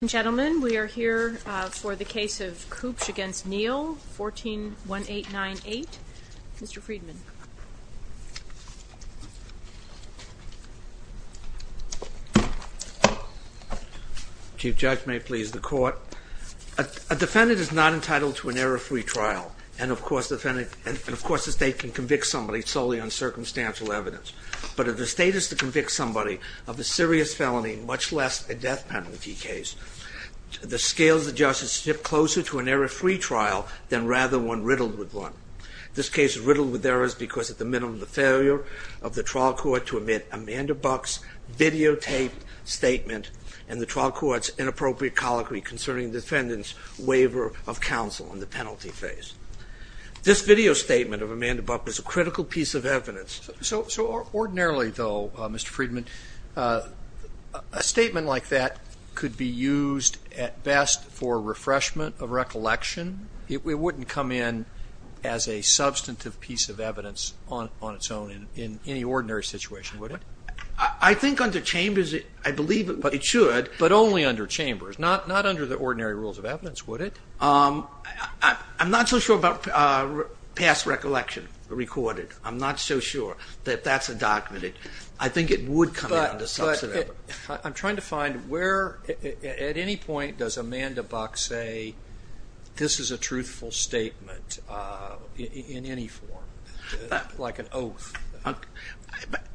Ladies and gentlemen, we are here for the case of Kubsch v. Neal, 14-1898. Mr. Friedman. Chief Judge, may it please the Court. A defendant is not entitled to an error-free trial. And, of course, the state can convict somebody solely on circumstantial evidence. But if the state is to convict somebody of a serious felony, much less a death penalty case, the scales of justice shift closer to an error-free trial than rather one riddled with one. This case is riddled with errors because, at the minimum, the failure of the trial court to admit Amanda Buck's videotaped statement and the trial court's inappropriate colloquy concerning the defendant's waiver of counsel in the penalty phase. This video statement of Amanda Buck is a critical piece of evidence. So ordinarily, though, Mr. Friedman, a statement like that could be used at best for refreshment of recollection. It wouldn't come in as a substantive piece of evidence on its own in any ordinary situation, would it? I think under Chambers, I believe it should. But only under Chambers, not under the ordinary rules of evidence, would it? I'm not so sure about past recollection recorded. I'm not so sure that that's a document. I think it would come out as substantive. But I'm trying to find where, at any point, does Amanda Buck say, this is a truthful statement in any form, like an oath?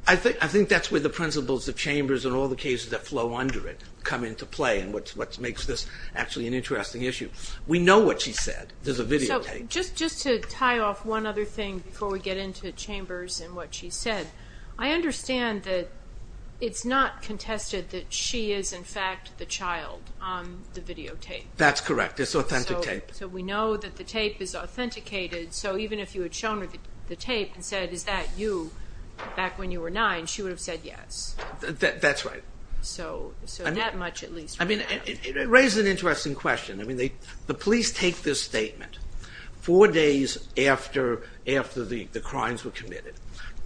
I think that's where the principles of Chambers and all the cases that flow under it come into play and what makes this actually an interesting issue. We know what she said. There's a videotape. So just to tie off one other thing before we get into Chambers and what she said, I understand that it's not contested that she is, in fact, the child on the videotape. That's correct. It's authentic tape. So we know that the tape is authenticated. So even if you had shown her the tape and said, is that you back when you were nine, she would have said yes. That's right. So that much at least. It raises an interesting question. The police take this statement four days after the crimes were committed.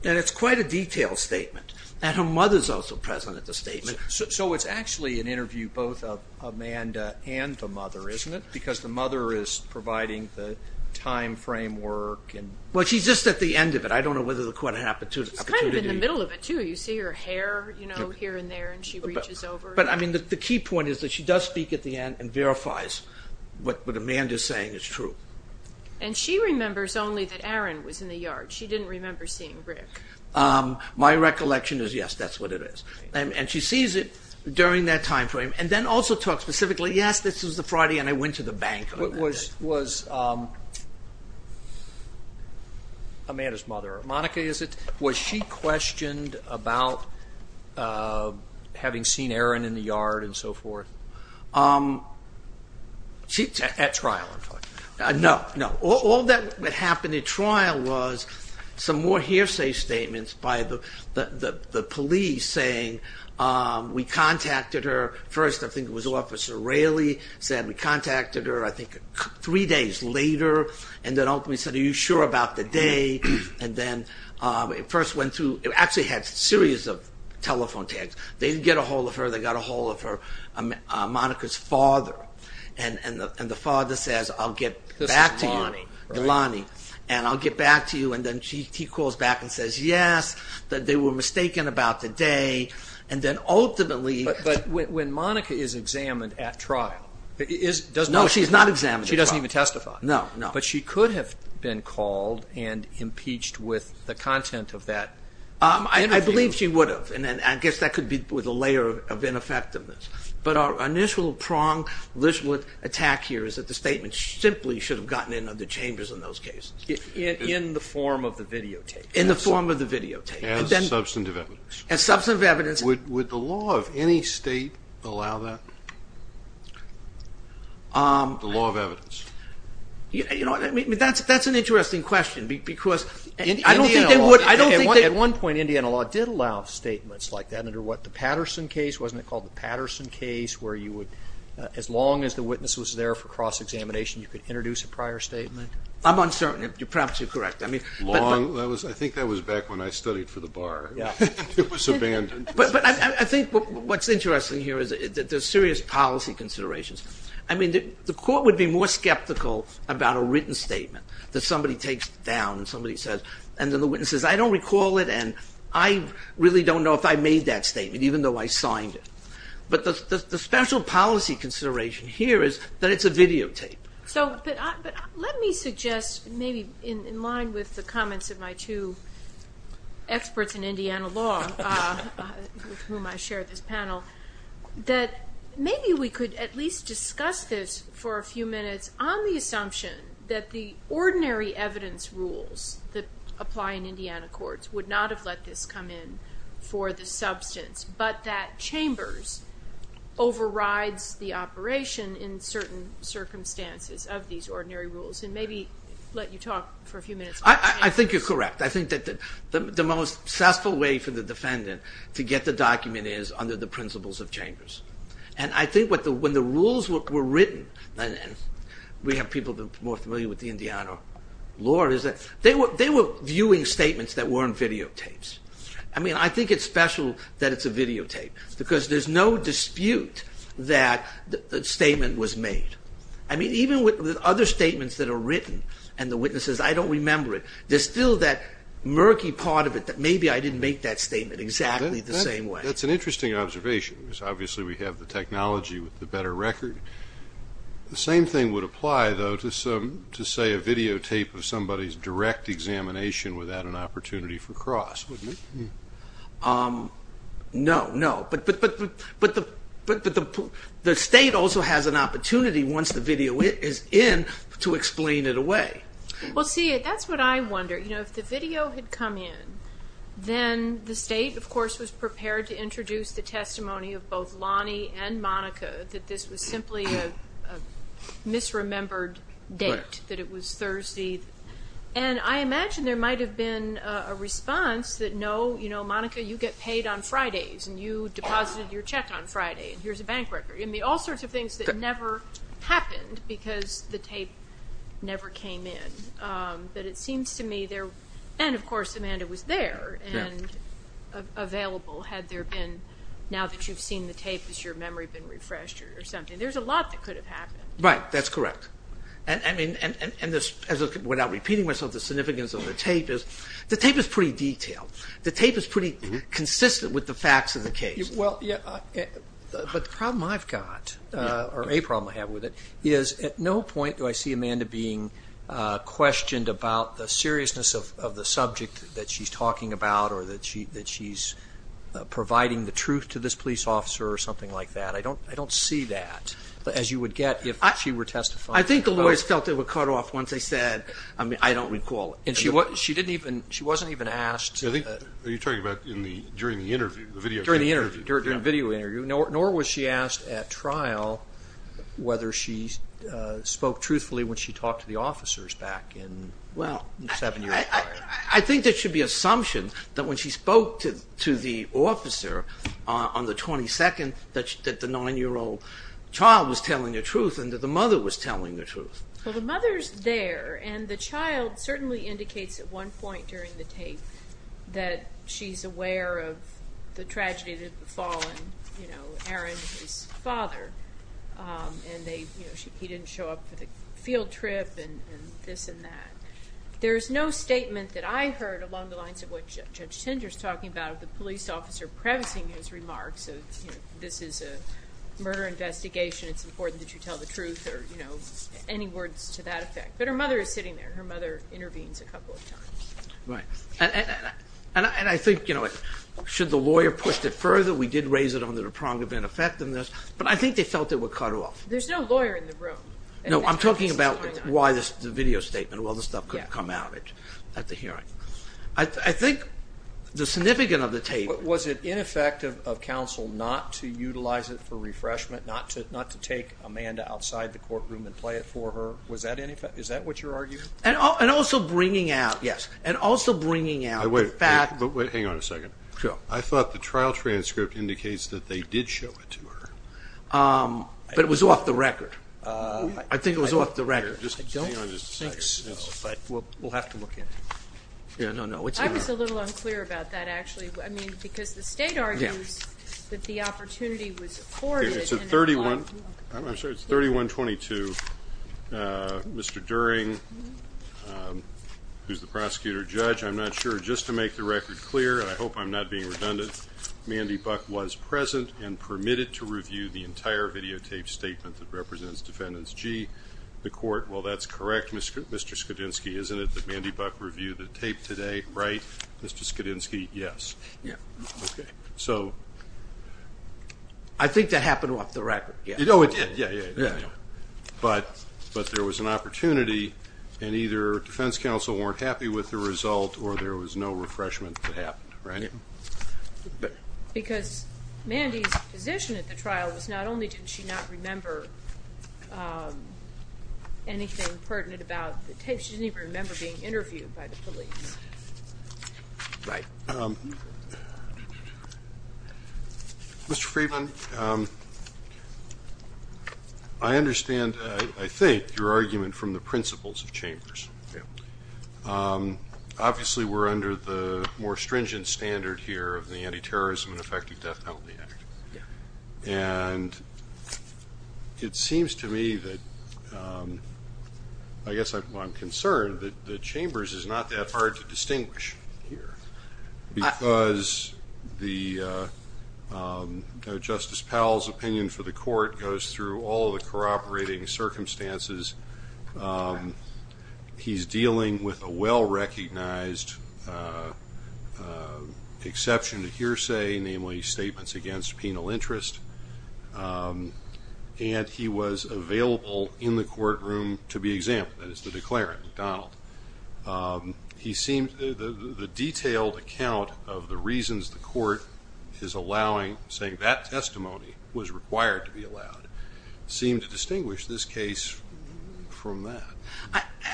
And it's quite a detailed statement. And her mother is also present at the statement. So it's actually an interview both of Amanda and the mother, isn't it? Because the mother is providing the time frame work. Well, she's just at the end of it. I don't know whether the court had an opportunity. She's kind of in the middle of it, too. You see her hair, you know, here and there, and she reaches over. But, I mean, the key point is that she does speak at the end and verifies what Amanda is saying is true. And she remembers only that Aaron was in the yard. She didn't remember seeing Rick. My recollection is, yes, that's what it is. And she sees it during that time frame. And then also talks specifically, yes, this was the Friday and I went to the bank. Was Amanda's mother, Monica, was she questioned about having seen Aaron in the yard and so forth? At trial, I'm talking about. No, no. All that happened at trial was some more hearsay statements by the police saying, we contacted her. First, I think it was Officer Raley said we contacted her, I think, three days later. And then ultimately said, are you sure about the day? And then it first went through. It actually had a series of telephone tags. They didn't get a hold of her. They got a hold of her, Monica's father. And the father says, I'll get back to you. This is Lonnie, right? Lonnie. And I'll get back to you. And then he calls back and says, yes, they were mistaken about the day. And then ultimately. But when Monica is examined at trial. No, she's not examined at trial. She doesn't even testify. No, no. But she could have been called and impeached with the content of that interview. I believe she would have. And I guess that could be with a layer of ineffectiveness. But our initial prong, initial attack here is that the statement simply should have gotten into the chambers in those cases. In the form of the videotape. In the form of the videotape. As substantive evidence. As substantive evidence. Would the law of any state allow that? The law of evidence. You know, that's an interesting question. Because I don't think they would. At one point, Indiana law did allow statements like that under what, the Patterson case? Wasn't it called the Patterson case where you would, as long as the witness was there for cross-examination, you could introduce a prior statement? I'm uncertain. Perhaps you're correct. Law, I think that was back when I studied for the bar. It was abandoned. But I think what's interesting here is that there's serious policy considerations. I mean, the court would be more skeptical about a written statement that somebody takes down and somebody says, and then the witness says, I don't recall it, and I really don't know if I made that statement, even though I signed it. But the special policy consideration here is that it's a videotape. Let me suggest, maybe in line with the comments of my two experts in Indiana law with whom I share this panel, that maybe we could at least discuss this for a few minutes on the assumption that the ordinary evidence rules that apply in Indiana courts would not have let this come in for the substance, but that Chambers overrides the operation in certain circumstances of these ordinary rules. And maybe let you talk for a few minutes about Chambers. I think you're correct. I think that the most successful way for the defendant to get the document is under the principles of Chambers. And I think when the rules were written, and we have people who are more familiar with the Indiana law, is that they were viewing statements that weren't videotapes. I mean, I think it's special that it's a videotape, because there's no dispute that the statement was made. I mean, even with other statements that are written, and the witness says, I don't remember it, there's still that murky part of it that maybe I didn't make that statement exactly the same way. That's an interesting observation, because obviously we have the technology with the better record. The same thing would apply, though, to say a videotape of somebody's direct examination without an opportunity for cross with me. No, no. But the state also has an opportunity once the video is in to explain it away. Well, see, that's what I wonder. You know, if the video had come in, then the state, of course, was prepared to introduce the testimony of both Lonnie and Monica that this was simply a misremembered date, that it was Thursday. And I imagine there might have been a response that, no, you know, Monica, you get paid on Fridays, and you deposited your check on Friday, and here's a bank record. I mean, all sorts of things that never happened, because the tape never came in. But it seems to me, and of course, Amanda was there and available, had there been, now that you've seen the tape, has your memory been refreshed or something. There's a lot that could have happened. Right, that's correct. And, I mean, without repeating myself, the significance of the tape is the tape is pretty detailed. The tape is pretty consistent with the facts of the case. Well, yeah, but the problem I've got, or a problem I have with it, is at no point do I see Amanda being questioned about the seriousness of the subject that she's talking about or that she's providing the truth to this police officer or something like that. I don't see that as you would get if she were testifying. I think the lawyers felt they were cut off once they said, I mean, I don't recall. And she didn't even, she wasn't even asked. I think you're talking about during the interview, the video interview. During the interview, during the video interview, nor was she asked at trial whether she spoke truthfully when she talked to the officers back in, well, seven years prior. I think there should be assumption that when she spoke to the officer on the 22nd that the nine-year-old child was telling the truth and that the mother was telling the truth. Well, the mother's there, and the child certainly indicates at one point during the tape that she's aware of the tragedy that had befallen Aaron, his father, and he didn't show up for the field trip and this and that. There's no statement that I heard along the lines of what Judge Tinder's talking about of the police officer prefacing his remarks of this is a murder investigation, it's important that you tell the truth or any words to that effect. But her mother is sitting there. Her mother intervenes a couple of times. Right. And I think, you know, should the lawyer push it further, we did raise it under the prong of ineffectiveness, but I think they felt they were cut off. There's no lawyer in the room. No, I'm talking about why the video statement, all this stuff could come out at the hearing. I think the significance of the tape. Was it ineffective of counsel not to utilize it for refreshment, not to take Amanda outside the courtroom and play it for her? Is that what you're arguing? And also bringing out, yes, and also bringing out the fact. Wait, hang on a second. I thought the trial transcript indicates that they did show it to her. But it was off the record. I think it was off the record. I don't think so, but we'll have to look at it. I was a little unclear about that, actually. I mean, because the state argues that the opportunity was afforded. It's 3122. Mr. During, who's the prosecutor judge, I'm not sure. Just to make the record clear, and I hope I'm not being redundant, Mandy Buck was present and permitted to review the entire videotaped statement that represents Defendant G. McCourt. Well, that's correct, Mr. Skidinski, isn't it? That Mandy Buck reviewed the tape today, right? Mr. Skidinski, yes. Yeah. Okay. So. I think that happened off the record, yes. Oh, it did. Yeah, yeah, yeah. But there was an opportunity, and either defense counsel weren't happy with the result or there was no refreshment that happened, right? Because Mandy's position at the trial was not only did she not remember anything pertinent about the tape, she didn't even remember being interviewed by the police. Right. Mr. Friedman, I understand, I think, your argument from the principles of Chambers. Yeah. Obviously, we're under the more stringent standard here of the Anti-Terrorism and Effective Death Penalty Act. Yeah. And it seems to me that, I guess I'm concerned, that Chambers is not that hard to distinguish here, because Justice Powell's opinion for the court goes through all the corroborating circumstances. He's dealing with a well-recognized exception to hearsay, namely statements against penal interest. And he was available in the courtroom to be examined, that is to declare at McDonald. The detailed account of the reasons the court is allowing, saying that testimony was required to be allowed, seemed to distinguish this case from that.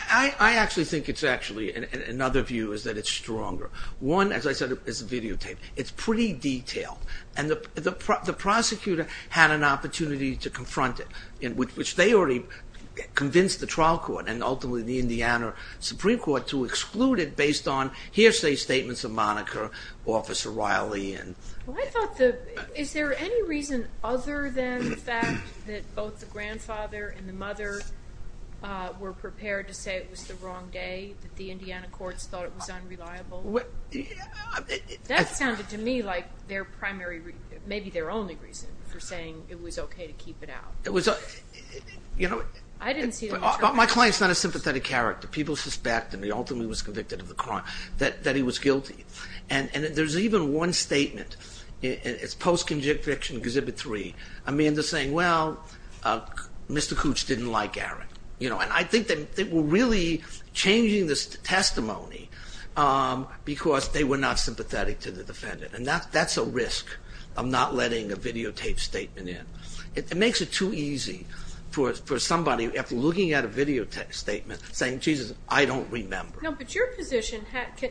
I actually think it's actually, another view is that it's stronger. One, as I said, is the videotape. It's pretty detailed. And the prosecutor had an opportunity to confront it, which they already convinced the trial court, and ultimately the Indiana Supreme Court, to exclude it based on hearsay statements of moniker, Officer Riley. Is there any reason other than the fact that both the grandfather and the mother were prepared to say it was the wrong day, that the Indiana courts thought it was unreliable? That sounded to me like their primary, maybe their only reason for saying it was okay to keep it out. My client's not a sympathetic character. People suspect, and he ultimately was convicted of the crime, that he was guilty. And there's even one statement. It's post-conviction Exhibit 3. Amanda's saying, well, Mr. Cooch didn't like Aaron. And I think they were really changing this testimony because they were not sympathetic to the defendant. And that's a risk of not letting a videotape statement in. It makes it too easy for somebody, after looking at a videotape statement, saying, Jesus, I don't remember. No, but your position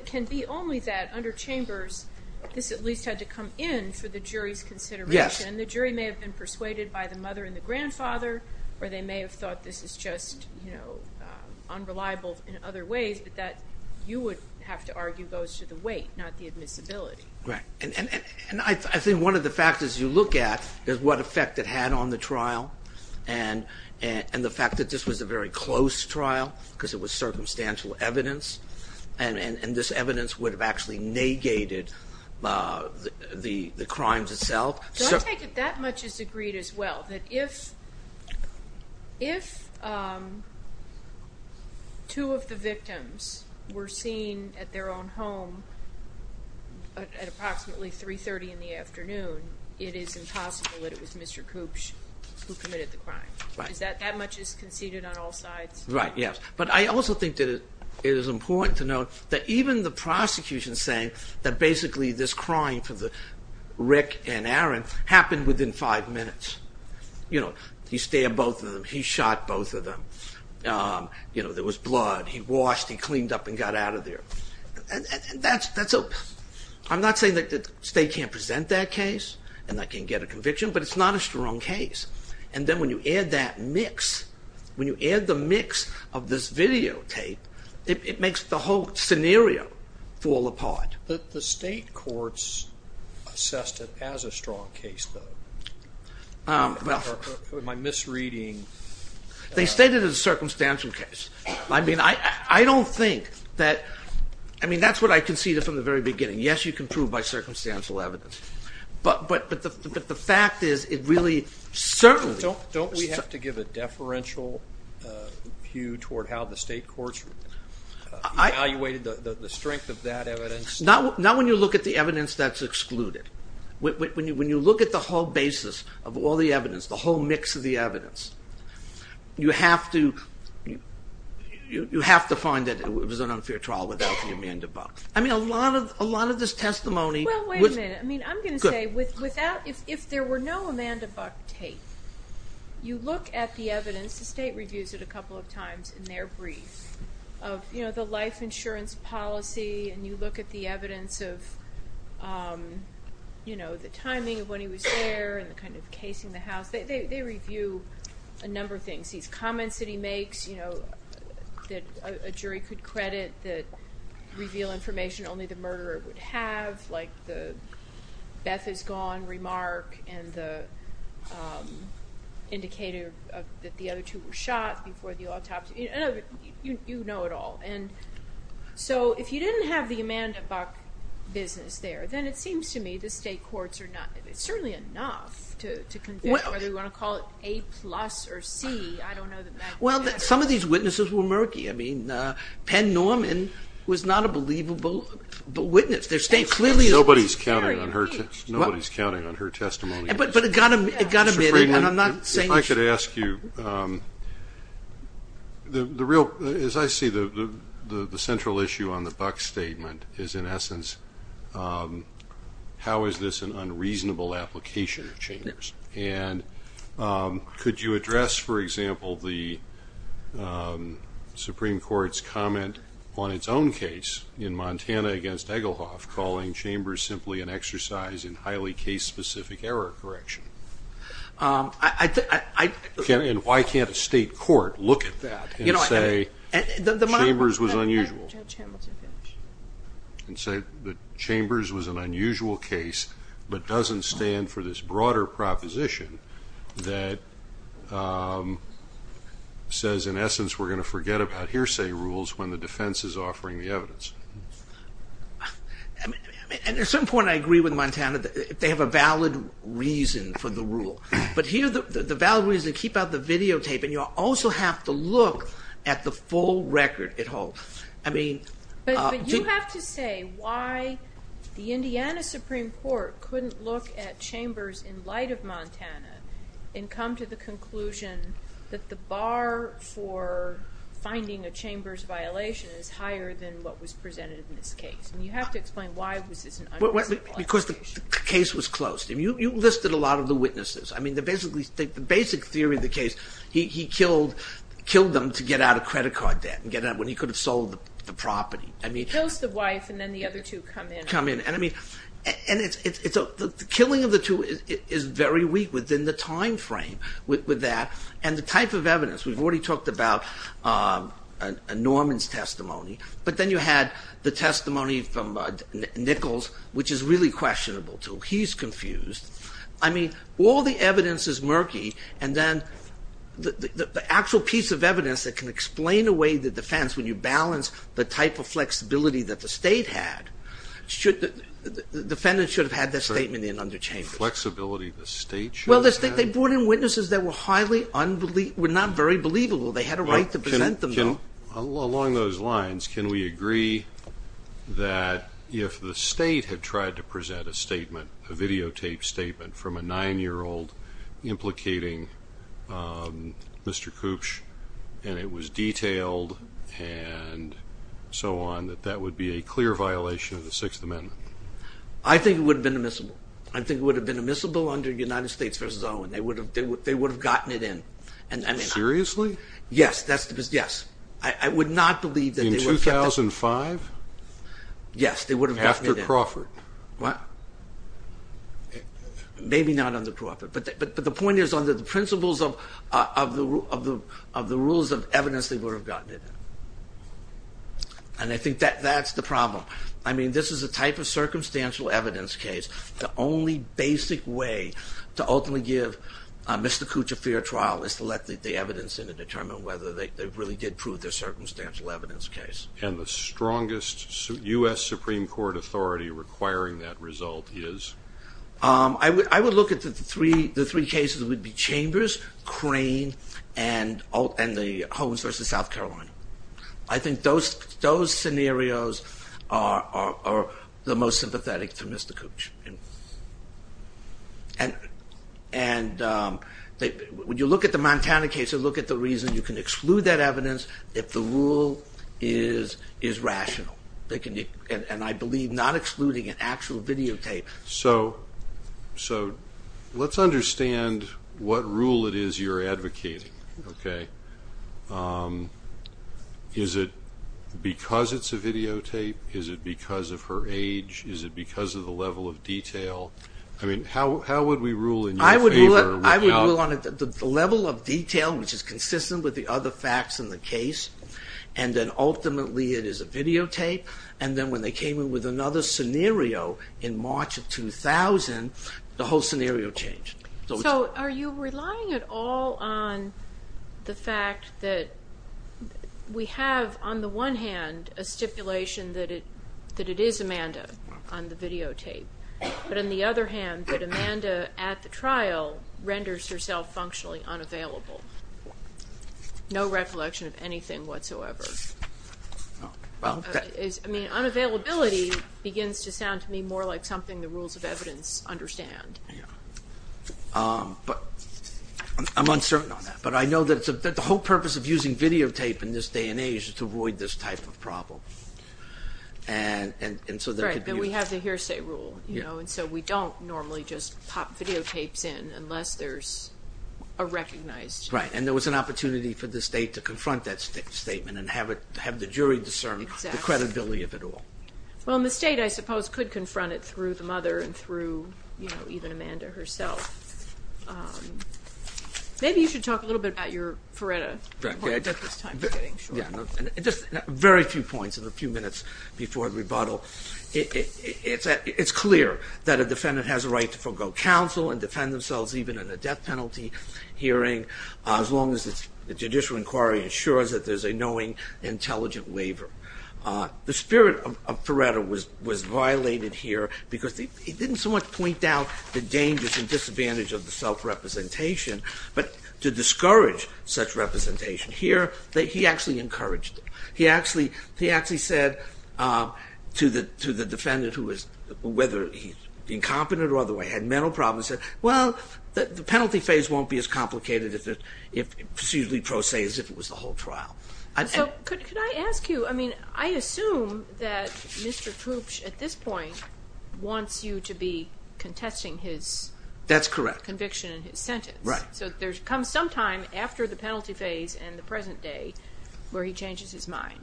can be only that under Chambers, this at least had to come in for the jury's consideration. The jury may have been persuaded by the mother and the grandfather, or they may have thought this is just unreliable in other ways, but that, you would have to argue, goes to the weight, not the admissibility. Right. And I think one of the factors you look at is what effect it had on the trial and the fact that this was a very close trial because it was circumstantial evidence, and this evidence would have actually negated the crimes itself. So I take it that much is agreed as well, that if two of the victims were seen at their own home at approximately 3.30 in the afternoon, it is impossible that it was Mr. Cooch who committed the crime. Right. That much is conceded on all sides? Right, yes. But I also think that it is important to note that even the prosecution saying that basically this crime for Rick and Aaron happened within five minutes, you know, he stabbed both of them, he shot both of them, you know, there was blood, he washed, he cleaned up and got out of there. I'm not saying that State can't present that case and that can't get a conviction, but it's not a strong case. And then when you add that mix, when you add the mix of this videotape, it makes the whole scenario fall apart. The State courts assessed it as a strong case, though. Am I misreading? They stated it as a circumstantial case. I mean, I don't think that, I mean, that's what I conceded from the very beginning. Yes, you can prove by circumstantial evidence, but the fact is it really certainly... Don't we have to give a deferential view toward how the State courts evaluated the strength of that evidence? Not when you look at the evidence that's excluded. When you look at the whole basis of all the evidence, the whole mix of the evidence, you have to find that it was an unfair trial without the amend above. I mean, a lot of this testimony... Well, wait a minute. I mean, I'm going to say, if there were no Amanda Buck tape, you look at the evidence, the State reviews it a couple of times in their brief, of the life insurance policy, and you look at the evidence of the timing of when he was there and the kind of case in the house. They review a number of things. These comments that he makes that a jury could credit that reveal information only the murderer would have, like the Beth is gone remark and the indicator that the other two were shot before the autopsy. You know it all. And so if you didn't have the Amanda Buck business there, then it seems to me the State courts are not... It's certainly enough to convict whether you want to call it A plus or C. I don't know that that... Well, some of these witnesses were murky. I mean, Penn Norman was not a believable witness. The State clearly... Nobody's counting on her testimony. But it got admitted, and I'm not saying... Mr. Friedman, if I could ask you, as I see the central issue on the Buck statement is, in essence, how is this an unreasonable application of changes? And could you address, for example, the Supreme Court's comment on its own case in Montana against Eggelhoff calling Chambers simply an exercise in highly case-specific error correction? And why can't a State court look at that and say Chambers was unusual? And say that Chambers was an unusual case but doesn't stand for this broader proposition that says, in essence, we're going to forget about hearsay rules when the defense is offering the evidence. At some point I agree with Montana. They have a valid reason for the rule. But here the valid reason is to keep out the videotape, and you also have to look at the full record at home. But you have to say why the Indiana Supreme Court couldn't look at Chambers in light of Montana and come to the conclusion that the bar for finding a Chambers violation is higher than what was presented in this case. And you have to explain why this is an unreasonable application. Because the case was closed. You listed a lot of the witnesses. I mean, the basic theory of the case, he killed them to get out of credit card debt and get out when he could have sold the property. He kills the wife and then the other two come in. Come in. And the killing of the two is very weak within the time frame with that. And the type of evidence, we've already talked about Norman's testimony, but then you had the testimony from Nichols, which is really questionable too. He's confused. I mean, all the evidence is murky, and then the actual piece of evidence that can explain in a way the defense when you balance the type of flexibility that the state had, the defendant should have had that statement in under Chambers. Flexibility the state should have had? Well, they brought in witnesses that were not very believable. They had a right to present them, though. Along those lines, can we agree that if the state had tried to present a statement, a videotaped statement from a 9-year-old implicating Mr. Koopsch and it was detailed and so on, that that would be a clear violation of the Sixth Amendment? I think it would have been admissible. I think it would have been admissible under United States v. Owen. They would have gotten it in. Seriously? Yes. I would not believe that they would have kept it. In 2005? Yes, they would have gotten it in. After Crawford? What? Maybe not under Crawford. But the point is, under the principles of the rules of evidence, they would have gotten it in. And I think that's the problem. I mean, this is a type of circumstantial evidence case. The only basic way to ultimately give Mr. Koopsch a fair trial is to let the evidence in and determine whether they really did prove their circumstantial evidence case. And the strongest U.S. Supreme Court authority requiring that result is? I would look at the three cases. It would be Chambers, Crane, and the Holmes v. South Carolina. I think those scenarios are the most sympathetic to Mr. Koopsch. And when you look at the Montana case, look at the reason you can exclude that evidence if the rule is rational. And I believe not excluding an actual videotape. So let's understand what rule it is you're advocating, okay? Is it because it's a videotape? Is it because of her age? Is it because of the level of detail? I mean, how would we rule in your favor? I would rule on the level of detail, which is consistent with the other facts in the case, and then ultimately it is a videotape, and then when they came in with another scenario in March of 2000, the whole scenario changed. So are you relying at all on the fact that we have, on the one hand, a stipulation that it is Amanda on the videotape, but on the other hand that Amanda at the trial renders herself functionally unavailable? No recollection of anything whatsoever. I mean, unavailability begins to sound to me more like something the rules of evidence understand. I'm uncertain on that, but I know that the whole purpose of using videotape in this day and age is to avoid this type of problem. Right, and we have the hearsay rule, you know, and so we don't normally just pop videotapes in unless there's a recognized... Right, and there was an opportunity for the state to confront that statement and have the jury discern the credibility of it all. Well, and the state, I suppose, could confront it through the mother and through, you know, even Amanda herself. Maybe you should talk a little bit about your Faretta report. Just very few points in the few minutes before the rebuttal. It's clear that a defendant has a right to forego counsel and defend themselves even in a death penalty hearing as long as the judicial inquiry ensures that there's a knowing, intelligent waiver. The spirit of Faretta was violated here because he didn't so much point out the dangers and disadvantage of the self-representation, but to discourage such representation. Here, he actually encouraged it. He actually said to the defendant, whether he's incompetent or otherwise, he had mental problems, he said, well, the penalty phase won't be as complicated as if it was the whole trial. So could I ask you, I mean, I assume that Mr. Koops at this point wants you to be contesting his conviction and his sentence. That's correct. So there comes some time after the penalty phase and the present day where he changes his mind.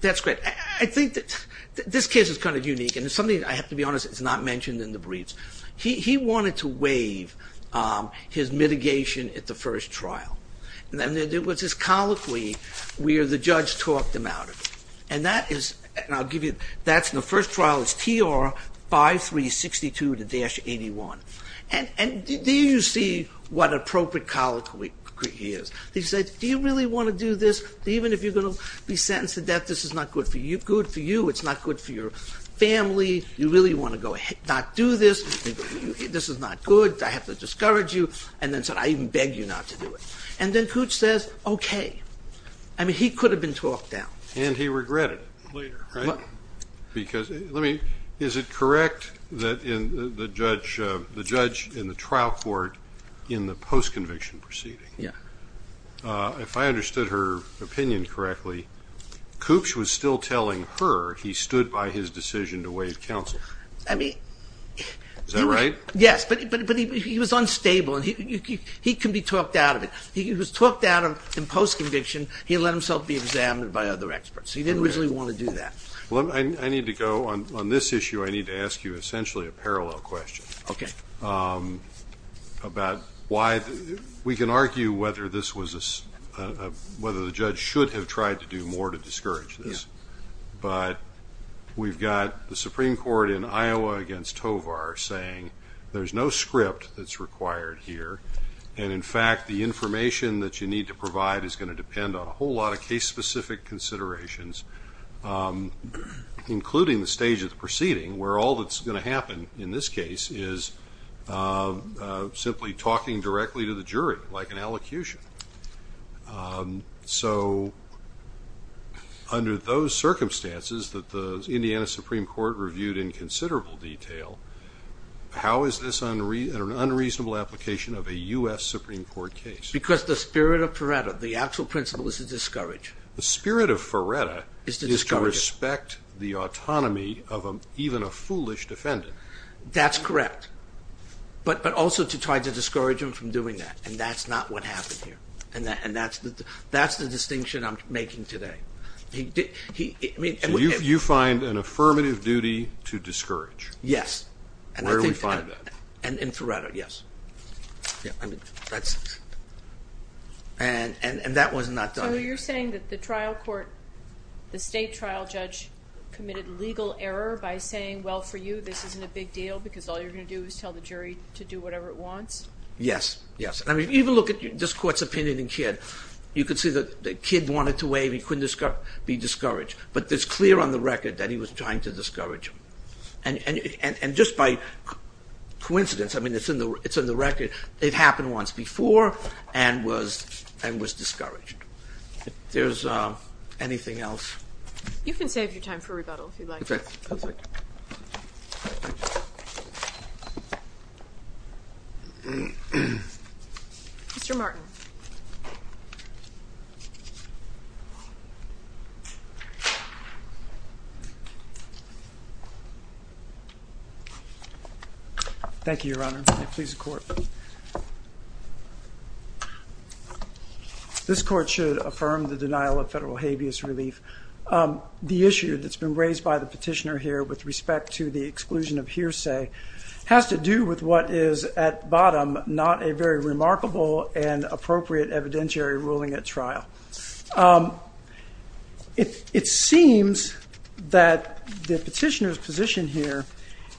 That's great. I think that this case is kind of unique and it's something, I have to be honest, it's not mentioned in the briefs. He wanted to waive his mitigation at the first trial. And there was this colloquy where the judge talked him out of it. And that is, and I'll give you, that's in the first trial, it's TR 5362-81. And there you see what an appropriate colloquy he is. He said, do you really want to do this? Even if you're going to be sentenced to death, this is not good for you. It's not good for your family. You really want to not do this. This is not good. I have to discourage you. And then said, I even beg you not to do it. And then Koops says, okay. I mean, he could have been talked down. And he regretted it later, right? Because, let me, is it correct that the judge in the trial court in the post-conviction proceeding Yeah. If I understood her opinion correctly, Koops was still telling her he stood by his decision to waive counsel. I mean. Is that right? Yes, but he was unstable. And he can be talked out of it. He was talked out of in post-conviction. He let himself be examined by other experts. He didn't really want to do that. Well, I need to go on this issue. I need to ask you essentially a parallel question. Okay. About why we can argue whether this was a, whether the judge should have tried to do more to discourage this. But we've got the Supreme Court in Iowa against Tovar saying, there's no script that's required here. And in fact, the information that you need to provide is going to depend on a whole lot of case specific considerations, including the stage of the proceeding where all that's going to happen in this case is simply talking directly to the jury, like an allocution. So under those circumstances that the Indiana Supreme Court reviewed in considerable detail, how is this an unreasonable application of a U.S. Supreme Court case? Because the spirit of Ferretta, the actual principle is to discourage. The spirit of Ferretta is to respect the autonomy of even a foolish defendant. That's correct. But also to try to discourage him from doing that. And that's not what happened here. And that's the distinction I'm making today. So you find an affirmative duty to discourage? Yes. Where do we find that? In Ferretta, yes. And that was not done. So you're saying that the trial court, the state trial judge committed legal error by saying, well, for you, this isn't a big deal because all you're going to do is tell the jury to do whatever it wants? Yes, yes. I mean, even look at this court's opinion in Kidd. You could see that Kidd wanted to waive. He couldn't be discouraged. But it's clear on the record that he was trying to discourage him. And just by coincidence, I mean, it's in the record, it happened once before and was discouraged. If there's anything else. You can save your time for rebuttal if you'd like. Okay. Mr. Martin. Thank you, Your Honor. Please, the court. This court should affirm the denial of federal habeas relief. The issue that's been raised by the petitioner here with respect to the exclusion of hearsay has to do with what is, at bottom, not a very remarkable and appropriate evidentiary ruling at trial. It seems that the petitioner's position here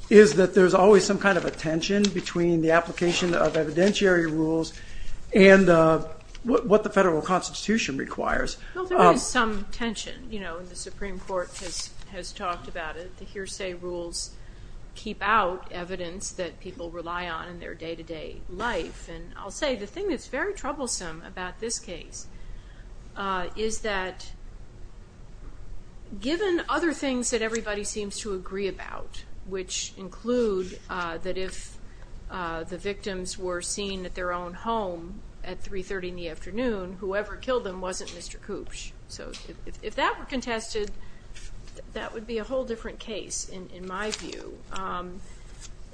is that there's always some kind of a tension between the application of evidentiary rules and what the federal constitution requires. Well, there is some tension. You know, the Supreme Court has talked about it. The hearsay rules keep out evidence that people rely on in their day-to-day life. And I'll say the thing that's very troublesome about this case is that given other things that everybody seems to agree about, which include that if the victims were seen at their own home at 3.30 in the morning, they would be seen as poops. So if that were contested, that would be a whole different case, in my view.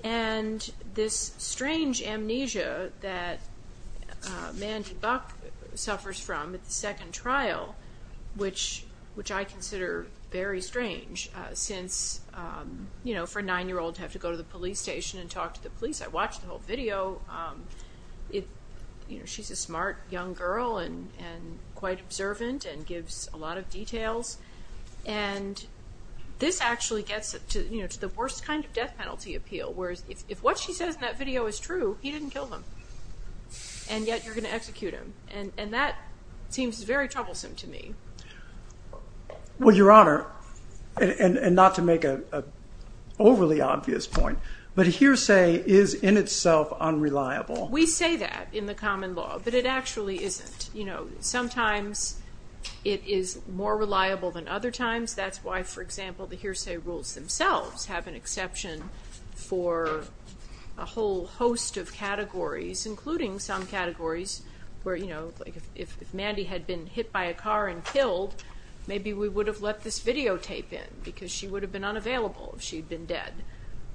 And this strange amnesia that Mandy Buck suffers from at the second trial, which I consider very strange since, you know, for a nine-year-old to have to go to the police station and talk to the police. I watched the whole video. You know, she's a smart young girl and quite observant and gives a lot of details. And this actually gets to, you know, to the worst kind of death penalty appeal, whereas if what she says in that video is true, he didn't kill them. And yet you're going to execute him. And that seems very troublesome to me. Well, Your Honor, and not to make an overly obvious point, but hearsay is in itself unreliable. We say that in the common law, but it actually isn't. You know, sometimes it is more reliable than other times. That's why, for example, the hearsay rules themselves have an exception for a whole host of categories, including some categories where, you know, like if Mandy had been hit by a car and killed, maybe we would have let this videotape in because she would have been unavailable if she'd been dead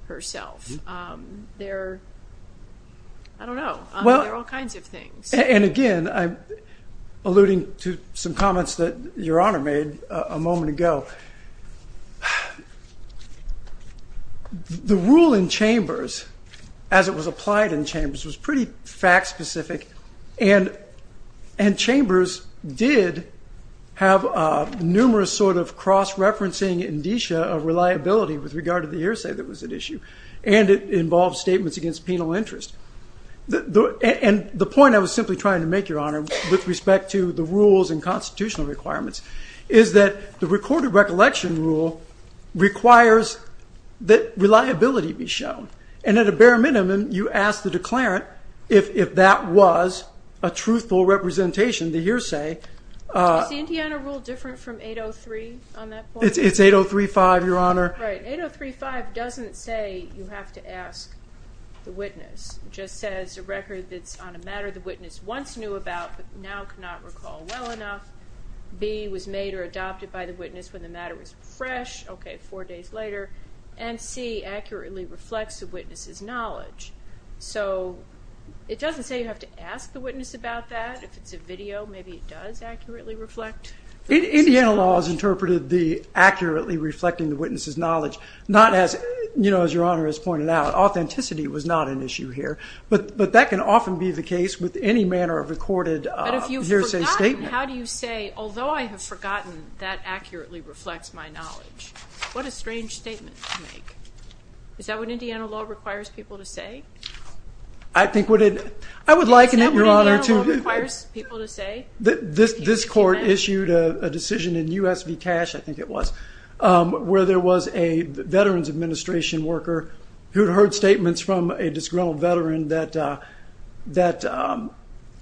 herself. There are, I don't know, there are all kinds of things. And again, I'm alluding to some comments that Your Honor made a moment ago. The rule in Chambers, as it was applied in Chambers, was pretty fact specific. And Chambers did have numerous sort of cross-referencing indicia of reliability with regard to the hearsay that was at issue. And it involved statements against penal interest. And the point I was simply trying to make, Your Honor, with respect to the rules and constitutional requirements, is that the recorded recollection rule requires that reliability be shown. And at a bare minimum, you ask the declarant if that was a truthful representation, the hearsay. Is the Indiana rule different from 803 on that point? It's 803-5, Your Honor. Right. 803-5 doesn't say you have to ask the witness. It just says a record that's on a matter the witness once knew about but now cannot recall well enough. B, was made or adopted by the witness when the matter was fresh, okay, four days later. And C, accurately reflects the witness's knowledge. So it doesn't say you have to ask the witness about that. If it's a video, maybe it does accurately reflect the witness's knowledge. Indiana law has interpreted the accurately reflecting the witness's knowledge not as, you know, as Your Honor has pointed out. Authenticity was not an issue here. But that can often be the case with any manner of recorded hearsay statement. But if you've forgotten, how do you say, although I have forgotten that accurately reflects my knowledge? What a strange statement to make. Is that what Indiana law requires people to say? I think what it – I would liken it, Your Honor, to – Is that what Indiana law requires people to say? This court issued a decision in U.S. v. Cash, I think it was, where there was a Veterans Administration worker who had heard statements from a disgruntled veteran that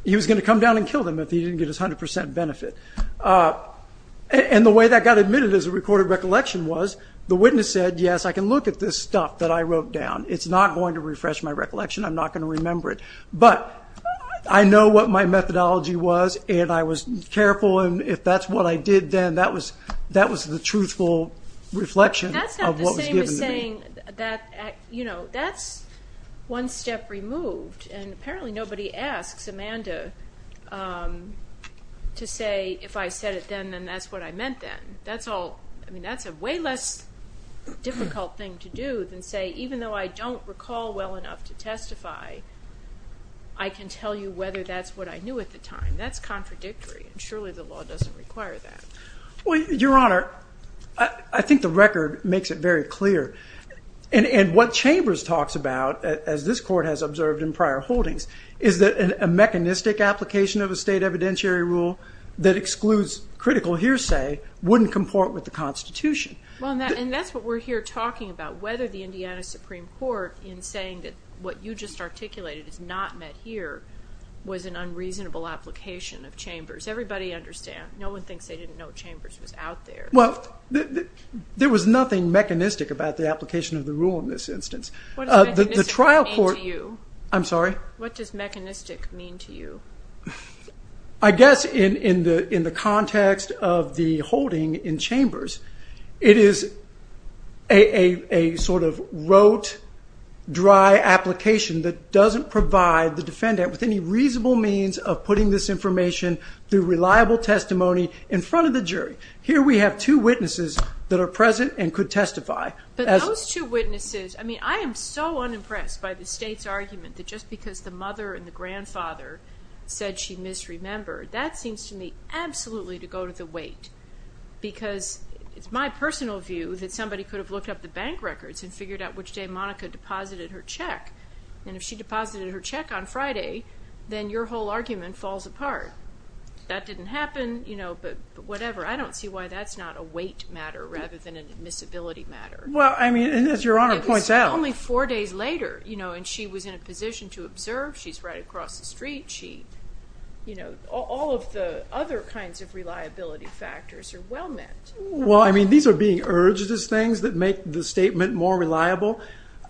he was going to come down and kill them if he didn't get his 100% benefit. And the way that got admitted as a recorded recollection was the witness said, yes, I can look at this stuff that I wrote down. It's not going to refresh my recollection. I'm not going to remember it. But I know what my methodology was, and I was careful, and if that's what I did then, that was the truthful reflection of what was given to me. That's not the same as saying that – you know, that's one step removed. And apparently nobody asks Amanda to say, if I said it then, then that's what I meant then. That's all – I mean, that's a way less difficult thing to do than say, even though I don't recall well enough to testify, I can tell you whether that's what I knew at the time. That's contradictory, and surely the law doesn't require that. Well, Your Honor, I think the record makes it very clear. And what Chambers talks about, as this court has observed in prior holdings, is that a mechanistic application of a state evidentiary rule that excludes critical hearsay wouldn't comport with the Constitution. Well, and that's what we're here talking about, whether the Indiana Supreme Court, in saying that what you just articulated is not met here, was an unreasonable application of Chambers. Everybody understands. No one thinks they didn't know Chambers was out there. Well, there was nothing mechanistic about the application of the rule in this instance. What does mechanistic mean to you? I'm sorry? What does mechanistic mean to you? I guess in the context of the holding in Chambers, it is a sort of rote, dry application that doesn't provide the defendant with any reasonable means of putting this information through reliable testimony in front of the jury. Here we have two witnesses that are present and could testify. But those two witnesses, I mean, I am so unimpressed by the state's argument that just because the mother and the grandfather said she misremembered, that seems to me absolutely to go to the weight because it's my personal view that somebody could have looked up the bank records and figured out which day Monica deposited her check. And if she deposited her check on Friday, then your whole argument falls apart. That didn't happen, you know, but whatever. I don't see why that's not a weight matter rather than an admissibility matter. Well, I mean, as Your Honor points out. It was only four days later, you know, and she was in a position to observe. She's right across the street. All of the other kinds of reliability factors are well met. Well, I mean, these are being urged as things that make the statement more reliable.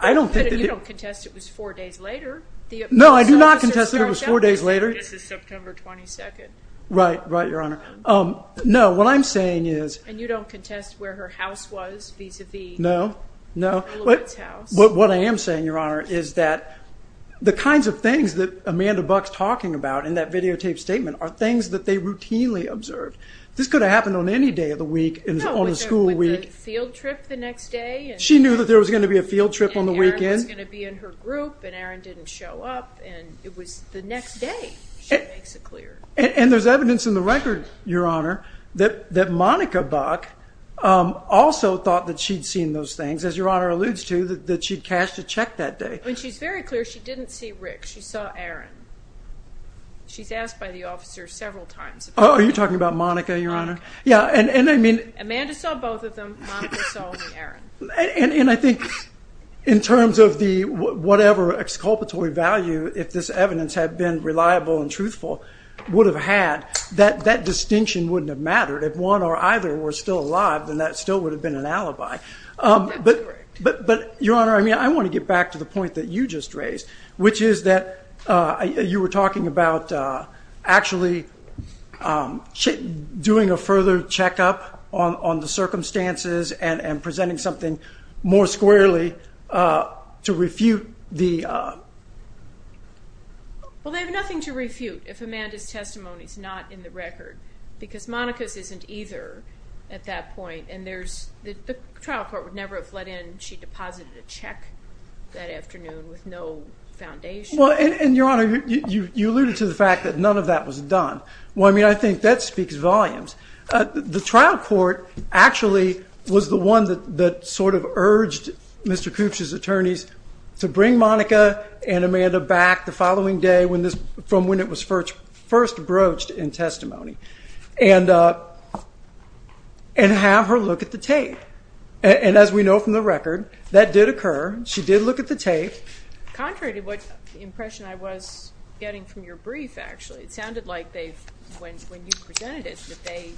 You don't contest it was four days later. No, I do not contest it was four days later. I guess it's September 22nd. Right, right, Your Honor. No, what I'm saying is. And you don't contest where her house was vis-à-vis. No, no. What I am saying, Your Honor, is that the kinds of things that Amanda Buck's talking about in that videotaped statement are things that they routinely observed. This could have happened on any day of the week, on a school week. No, with a field trip the next day. She knew that there was going to be a field trip on the weekend. And Aaron was going to be in her group, and Aaron didn't show up, and it was the next day, she makes it clear. And there's evidence in the record, Your Honor, that Monica Buck also thought that she'd seen those things, as Your Honor alludes to, that she'd cashed a check that day. And she's very clear she didn't see Rick. She saw Aaron. She's asked by the officer several times. Oh, you're talking about Monica, Your Honor? Yeah, and I mean. Amanda saw both of them. Monica saw only Aaron. And I think in terms of whatever exculpatory value, if this evidence had been reliable and truthful, would have had, that distinction wouldn't have mattered. If one or either were still alive, then that still would have been an alibi. That's correct. But, Your Honor, I want to get back to the point that you just raised, which is that you were talking about actually doing a further checkup on the circumstances and presenting something more squarely to refute the... Because Monica's isn't either at that point. And the trial court would never have let in she deposited a check that afternoon with no foundation. Well, and, Your Honor, you alluded to the fact that none of that was done. Well, I mean, I think that speaks volumes. The trial court actually was the one that sort of urged Mr. Koops's attorneys to bring Monica and Amanda back the following day from when it was first broached in testimony and have her look at the tape. And as we know from the record, that did occur. She did look at the tape. Contrary to what impression I was getting from your brief, actually, it sounded like when you presented it that they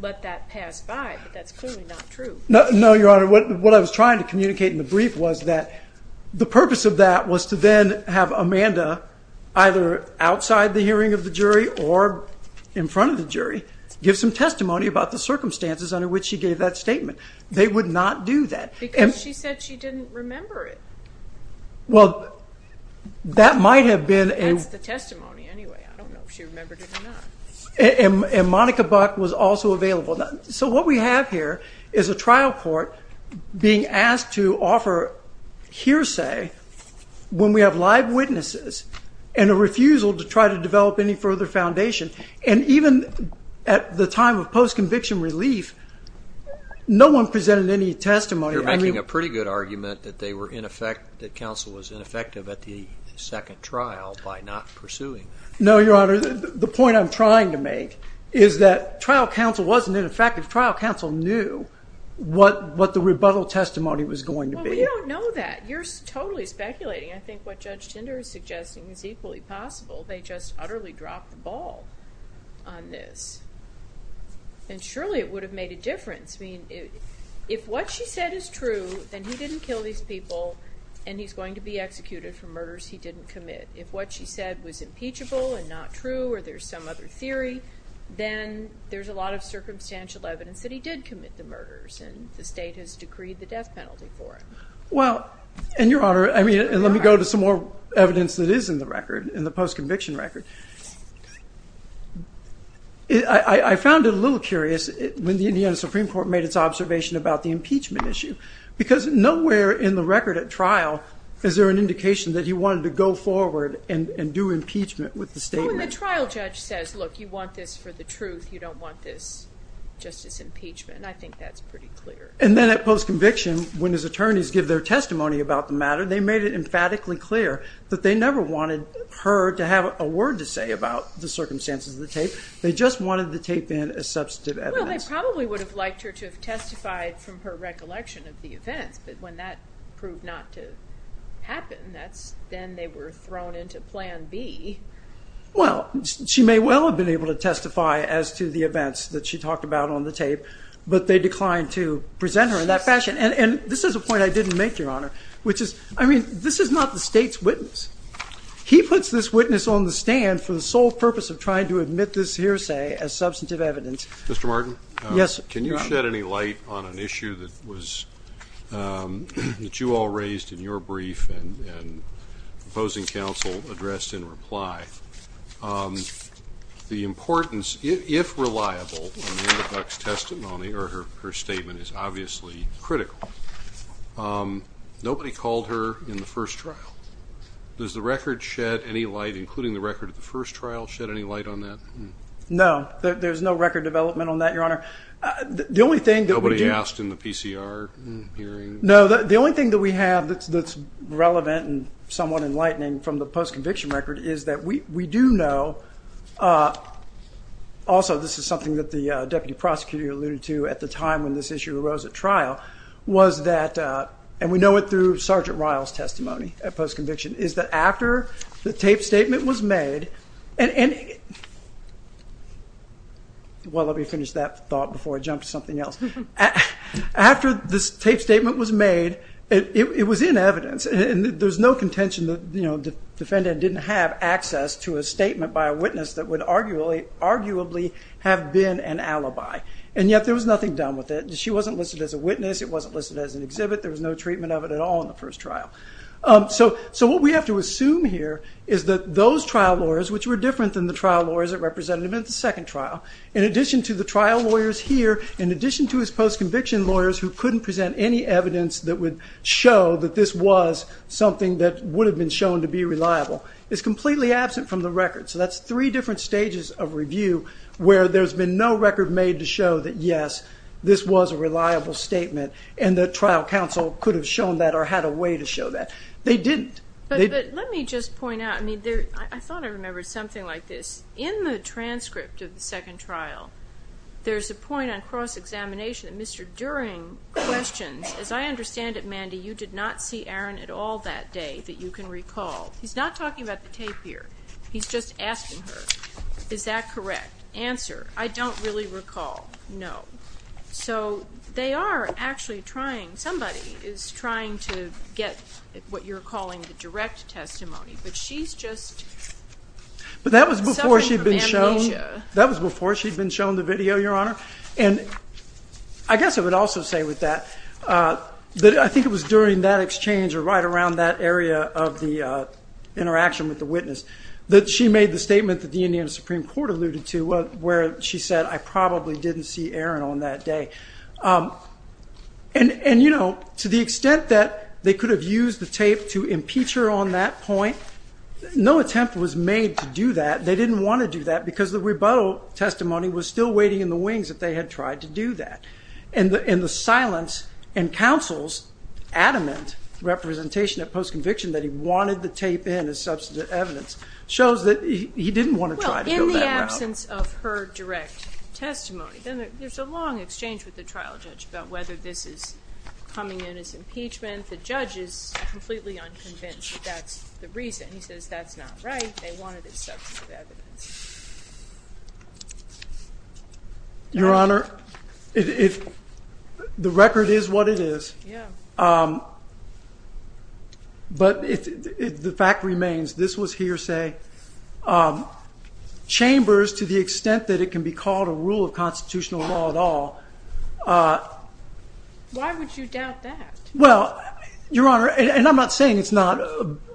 let that pass by, but that's clearly not true. No, Your Honor. What I was trying to communicate in the brief was that the purpose of that was to then have Amanda either outside the hearing of the jury or in front of the jury give some testimony about the circumstances under which she gave that statement. They would not do that. Because she said she didn't remember it. Well, that might have been... That's the testimony anyway. I don't know if she remembered it or not. And Monica Buck was also available. So what we have here is a trial court being asked to offer hearsay when we have live witnesses and a refusal to try to develop any further foundation. And even at the time of post-conviction relief, no one presented any testimony. You're making a pretty good argument that they were in effect, that counsel was ineffective at the second trial by not pursuing. No, Your Honor. The point I'm trying to make is that trial counsel wasn't ineffective. Trial counsel knew what the rebuttal testimony was going to be. Well, we don't know that. You're totally speculating. I think what Judge Tinder is suggesting is equally possible. They just utterly dropped the ball on this. And surely it would have made a difference. I mean, if what she said is true, then he didn't kill these people and he's going to be executed for murders he didn't commit. If what she said was impeachable and not true or there's some other theory, then there's a lot of circumstantial evidence that he did commit the murders and the state has decreed the death penalty for him. Well, and Your Honor, I mean, and let me go to some more evidence that is in the record, in the post-conviction record. I found it a little curious when the Indiana Supreme Court made its observation about the impeachment issue because nowhere in the record at trial is there an attorney's record and due impeachment with the statement. Well, when the trial judge says, look, you want this for the truth. You don't want this just as impeachment. I think that's pretty clear. And then at post-conviction, when his attorneys give their testimony about the matter, they made it emphatically clear that they never wanted her to have a word to say about the circumstances of the tape. They just wanted the tape in as substantive evidence. Well, they probably would have liked her to have testified from her recollection of the events, but when that proved not to happen, that's then they were thrown into plan B. Well, she may well have been able to testify as to the events that she talked about on the tape, but they declined to present her in that fashion. And this is a point I didn't make, Your Honor, which is, I mean, this is not the State's witness. He puts this witness on the stand for the sole purpose of trying to admit this hearsay as substantive evidence. Mr. Martin? Yes, Your Honor. Can you shed any light on an issue that was, that you all raised in your brief and opposing counsel addressed in reply? The importance, if reliable, on Anna Buck's testimony, or her statement is obviously critical. Nobody called her in the first trial. Does the record shed any light, including the record of the first trial, shed any light on that? No. There's no record development on that, Your Honor. Nobody asked in the PCR hearing? No. The only thing that we have that's relevant and somewhat enlightening from the post-conviction record is that we do know, also this is something that the Deputy Prosecutor alluded to at the time when this issue arose at trial, was that, and we know it through Sergeant Ryle's testimony at post-conviction, is that after the tape statement was made, and, well, let me finish that thought before I jump to something else. After this tape statement was made, it was in evidence, and there's no contention that the defendant didn't have access to a statement by a witness that would arguably have been an alibi. And yet there was nothing done with it. She wasn't listed as a witness. It wasn't listed as an exhibit. There was no treatment of it at all in the first trial. So what we have to assume here is that those trial lawyers, which were different than the trial lawyers that represented him at the second trial, in addition to the trial lawyers here, in addition to his post-conviction lawyers who couldn't present any evidence that would show that this was something that would have been shown to be reliable, is completely absent from the record. So that's three different stages of review where there's been no record made to show that, yes, this was a reliable statement, and the trial counsel could have shown that or had a way to show that. They didn't. But let me just point out, I mean, for something like this, in the transcript of the second trial, there's a point on cross-examination that Mr. Dering questions, as I understand it, Mandy, you did not see Aaron at all that day that you can recall. He's not talking about the tape here. He's just asking her, is that correct? Answer, I don't really recall. No. So they are actually trying, somebody is trying to get what you're calling the direct testimony. But she's just suffering from amnesia. But that was before she'd been shown the video, Your Honor. And I guess I would also say with that that I think it was during that exchange or right around that area of the interaction with the witness that she made the statement that the Indiana Supreme Court alluded to, where she said, I probably didn't see Aaron on that day. And, you know, to the extent that they could have used the tape to impeach her on that point, no attempt was made to do that. They didn't want to do that because the rebuttal testimony was still waiting in the wings if they had tried to do that. And the silence in counsel's adamant representation at post-conviction that he wanted the tape in as substantive evidence shows that he didn't want to try to build that route. Well, in the absence of her direct testimony, there's a long exchange with the trial judge about whether this is coming in as impeachment. The judge is completely unconvinced that that's the reason. He says that's not right. They wanted it as substantive evidence. Your Honor, the record is what it is. Yeah. But the fact remains, this was hearsay. Chambers, to the extent that it can be called a rule of constitutional law at all. Why would you doubt that? Well, Your Honor, and I'm not saying it's not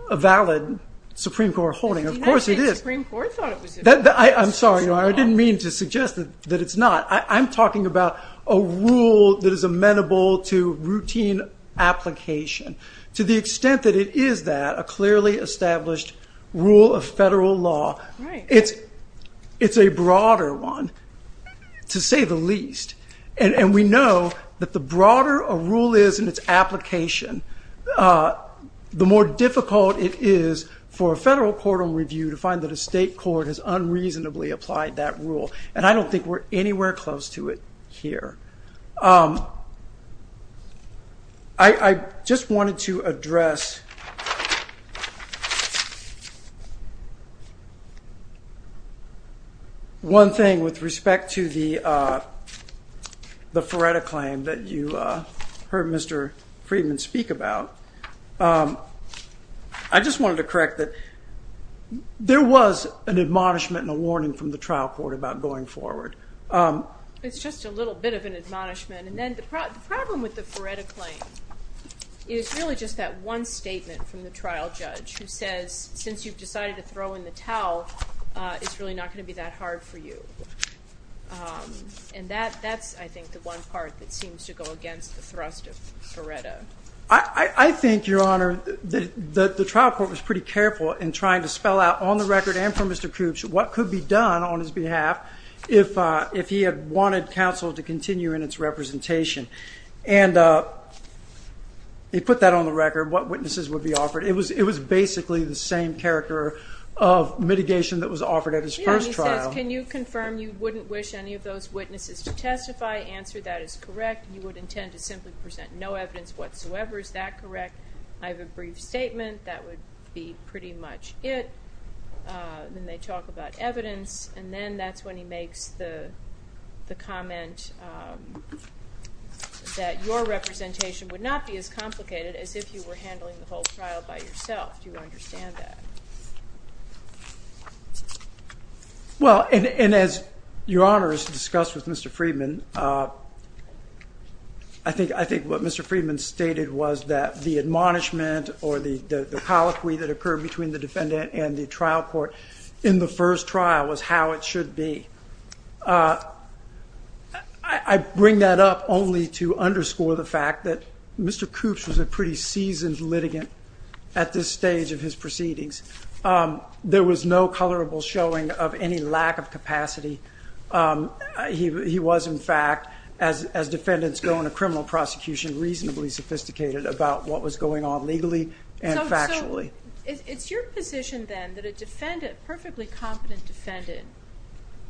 a valid Supreme Court holding. Of course it is. I'm sorry, Your Honor. I didn't mean to suggest that it's not. I'm talking about a rule that is amenable to routine application. To the extent that it is that, a clearly established rule of federal law, it's a broader one, to say the least. And we know that the broader a rule is in its application, the more difficult it is for a federal court on review to find that a state court has unreasonably applied that rule. And I don't think we're anywhere close to it here. I just wanted to address one thing with respect to the Ferreta claim that you heard Mr. Friedman speak about. I just wanted to correct that there was an admonishment and a warning from the trial court about going forward. It's just a little bit of an admonishment. And then the problem with the Ferreta claim is really just that one statement from the trial judge who says, since you've decided to throw in the towel, it's really not going to be that hard for you. And that's, I think, the one part that seems to go against the thrust of Ferreta. I think, Your Honor, that the trial court was pretty careful in trying to spell out on the record and from Mr. Koops what could be done on his behalf if he had wanted counsel to continue in its representation. And he put that on the record, what witnesses would be offered. It was basically the same character of mitigation that was offered at his first trial. He says, can you confirm you wouldn't wish any of those witnesses to testify? Answer, that is correct. You would intend to simply present no evidence whatsoever. Is that correct? I have a brief statement. That would be pretty much it. Then they talk about evidence. And then that's when he makes the comment that your representation would not be as complicated as if you were handling the whole trial by yourself. Do you understand that? Well, and as Your Honor has discussed with Mr. Friedman, I think what Mr. Friedman stated was that the admonishment or the colloquy that occurred between the defendant and the trial court in the first trial was how it should be. I bring that up only to underscore the fact that Mr. Koops was a pretty seasoned litigant at this stage of his proceedings. There was no colorable showing of any lack of capacity. He was, in fact, as defendants go into criminal prosecution, reasonably sophisticated about what was going on legally and factually. It's your position then that a defendant, perfectly competent defendant,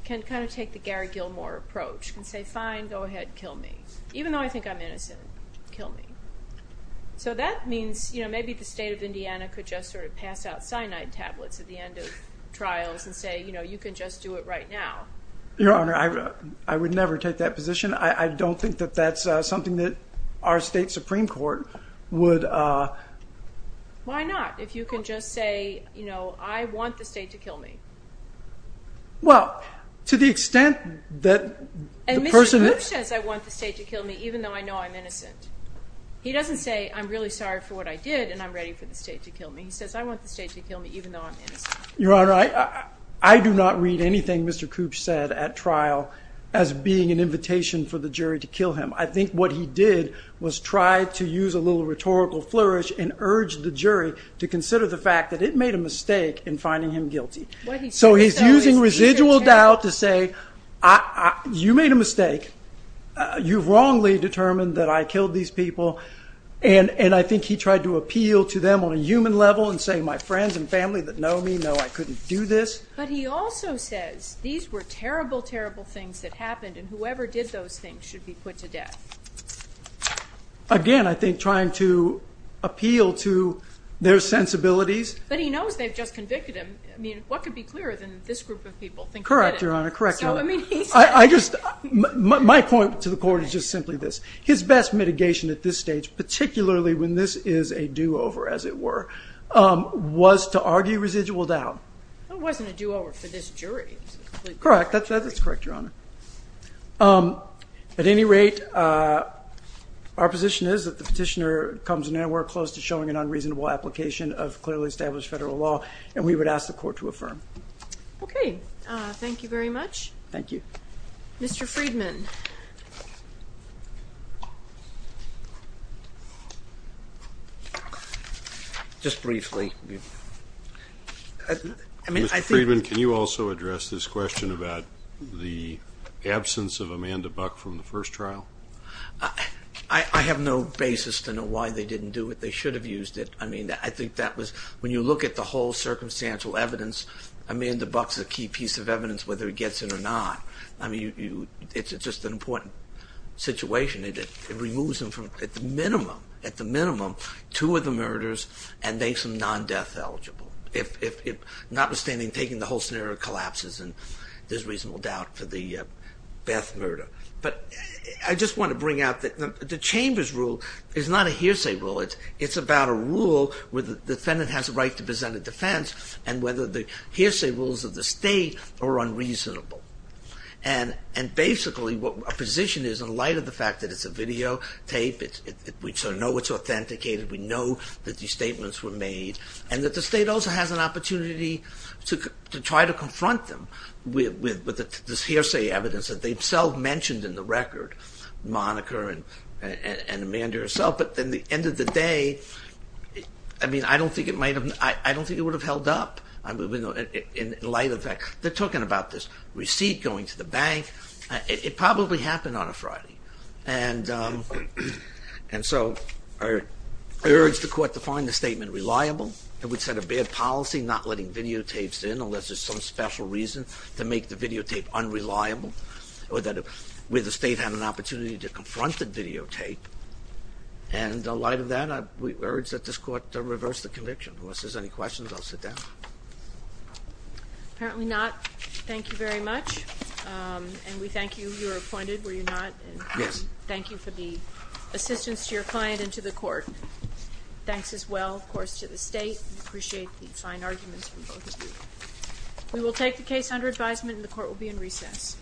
can kind of take the Gary Gilmore approach and say, fine, go ahead, kill me. Even though I think I'm innocent, kill me. So that means maybe the state of Indiana could just sort of pass out cyanide tablets at the end of trials and say, you know, you can just do it right now. Your Honor, I would never take that position. I don't think that that's something that our state Supreme Court would... Why not? If you can just say, you know, I want the state to kill me. Well, to the extent that the person... And Mr. Koops says, I want the state to kill me, even though I know I'm innocent. He doesn't say, I'm really sorry for what I did, and I'm ready for the state to kill me. He says, I want the state to kill me, even though I'm innocent. Your Honor, I do not read anything Mr. Koops said at trial as being an invitation for the jury to kill him. I think what he did was try to use a little rhetorical flourish and urge the jury to consider the fact that it made a mistake in finding him guilty. So he's using residual doubt to say, you made a mistake. You've wrongly determined that I killed these people. And I think he tried to appeal to them on a human level and say, my friends and family that know me know I couldn't do this. But he also says, these were terrible, terrible things that happened, and whoever did those things should be put to death. Again, I think trying to appeal to their sensibilities. But he knows they've just convicted him. I mean, what could be clearer than this group of people think he did it? Correct, Your Honor. Correct, Your Honor. My point to the court is just simply this. His best mitigation at this stage, particularly when this is a do-over, as it were, was to argue residual doubt. It wasn't a do-over for this jury. Correct. That's correct, Your Honor. At any rate, our position is that the petitioner comes nowhere close to showing an unreasonable application of clearly established federal law, and we would ask the court to affirm. Okay. Thank you very much. Thank you. Mr. Friedman. Just briefly. Mr. Friedman, can you also address this question about the absence of Amanda Buck from the first trial? I have no basis to know why they didn't do it. They should have used it. I mean, I think that was, when you look at the whole circumstantial evidence, Amanda Buck's a key piece of evidence, whether he gets it or not. I mean, it's just an important situation. It removes him from, at the minimum, at the minimum, two of the murders and makes him non-death eligible. Notwithstanding, taking the whole scenario collapses and there's reasonable doubt for the Beth murder. But I just want to bring out that the Chamber's rule is not a hearsay rule. It's about a rule where the defendant has a right to present a defense and whether the hearsay rules of the state are unreasonable. And basically, our position is, in light of the fact that it's a videotape, we sort of know it's authenticated, we know that these statements were made and that the state also has an opportunity to try to confront them with this hearsay evidence that they've self-mentioned in the record, Monica and Amanda herself. But at the end of the day, I mean, I don't think it might have, I don't think it would have held up in light of that. They're talking about this receipt going to the bank. It probably happened on a Friday. And so I urge the Court to find the statement reliable. It would set a bad policy not letting videotapes in unless there's some special reason to make the videotape unreliable or that the state had an opportunity to confront the videotape. And in light of that, we urge that this Court reverse the conviction. Unless there's any questions, I'll sit down. Apparently not. Thank you very much. And we thank you. You were appointed, were you not? Yes. Thank you for the assistance to your client and to the Court. Thanks as well, of course, to the state. We appreciate the fine arguments from both of you. We will take the case under advisement and the Court will be in recess.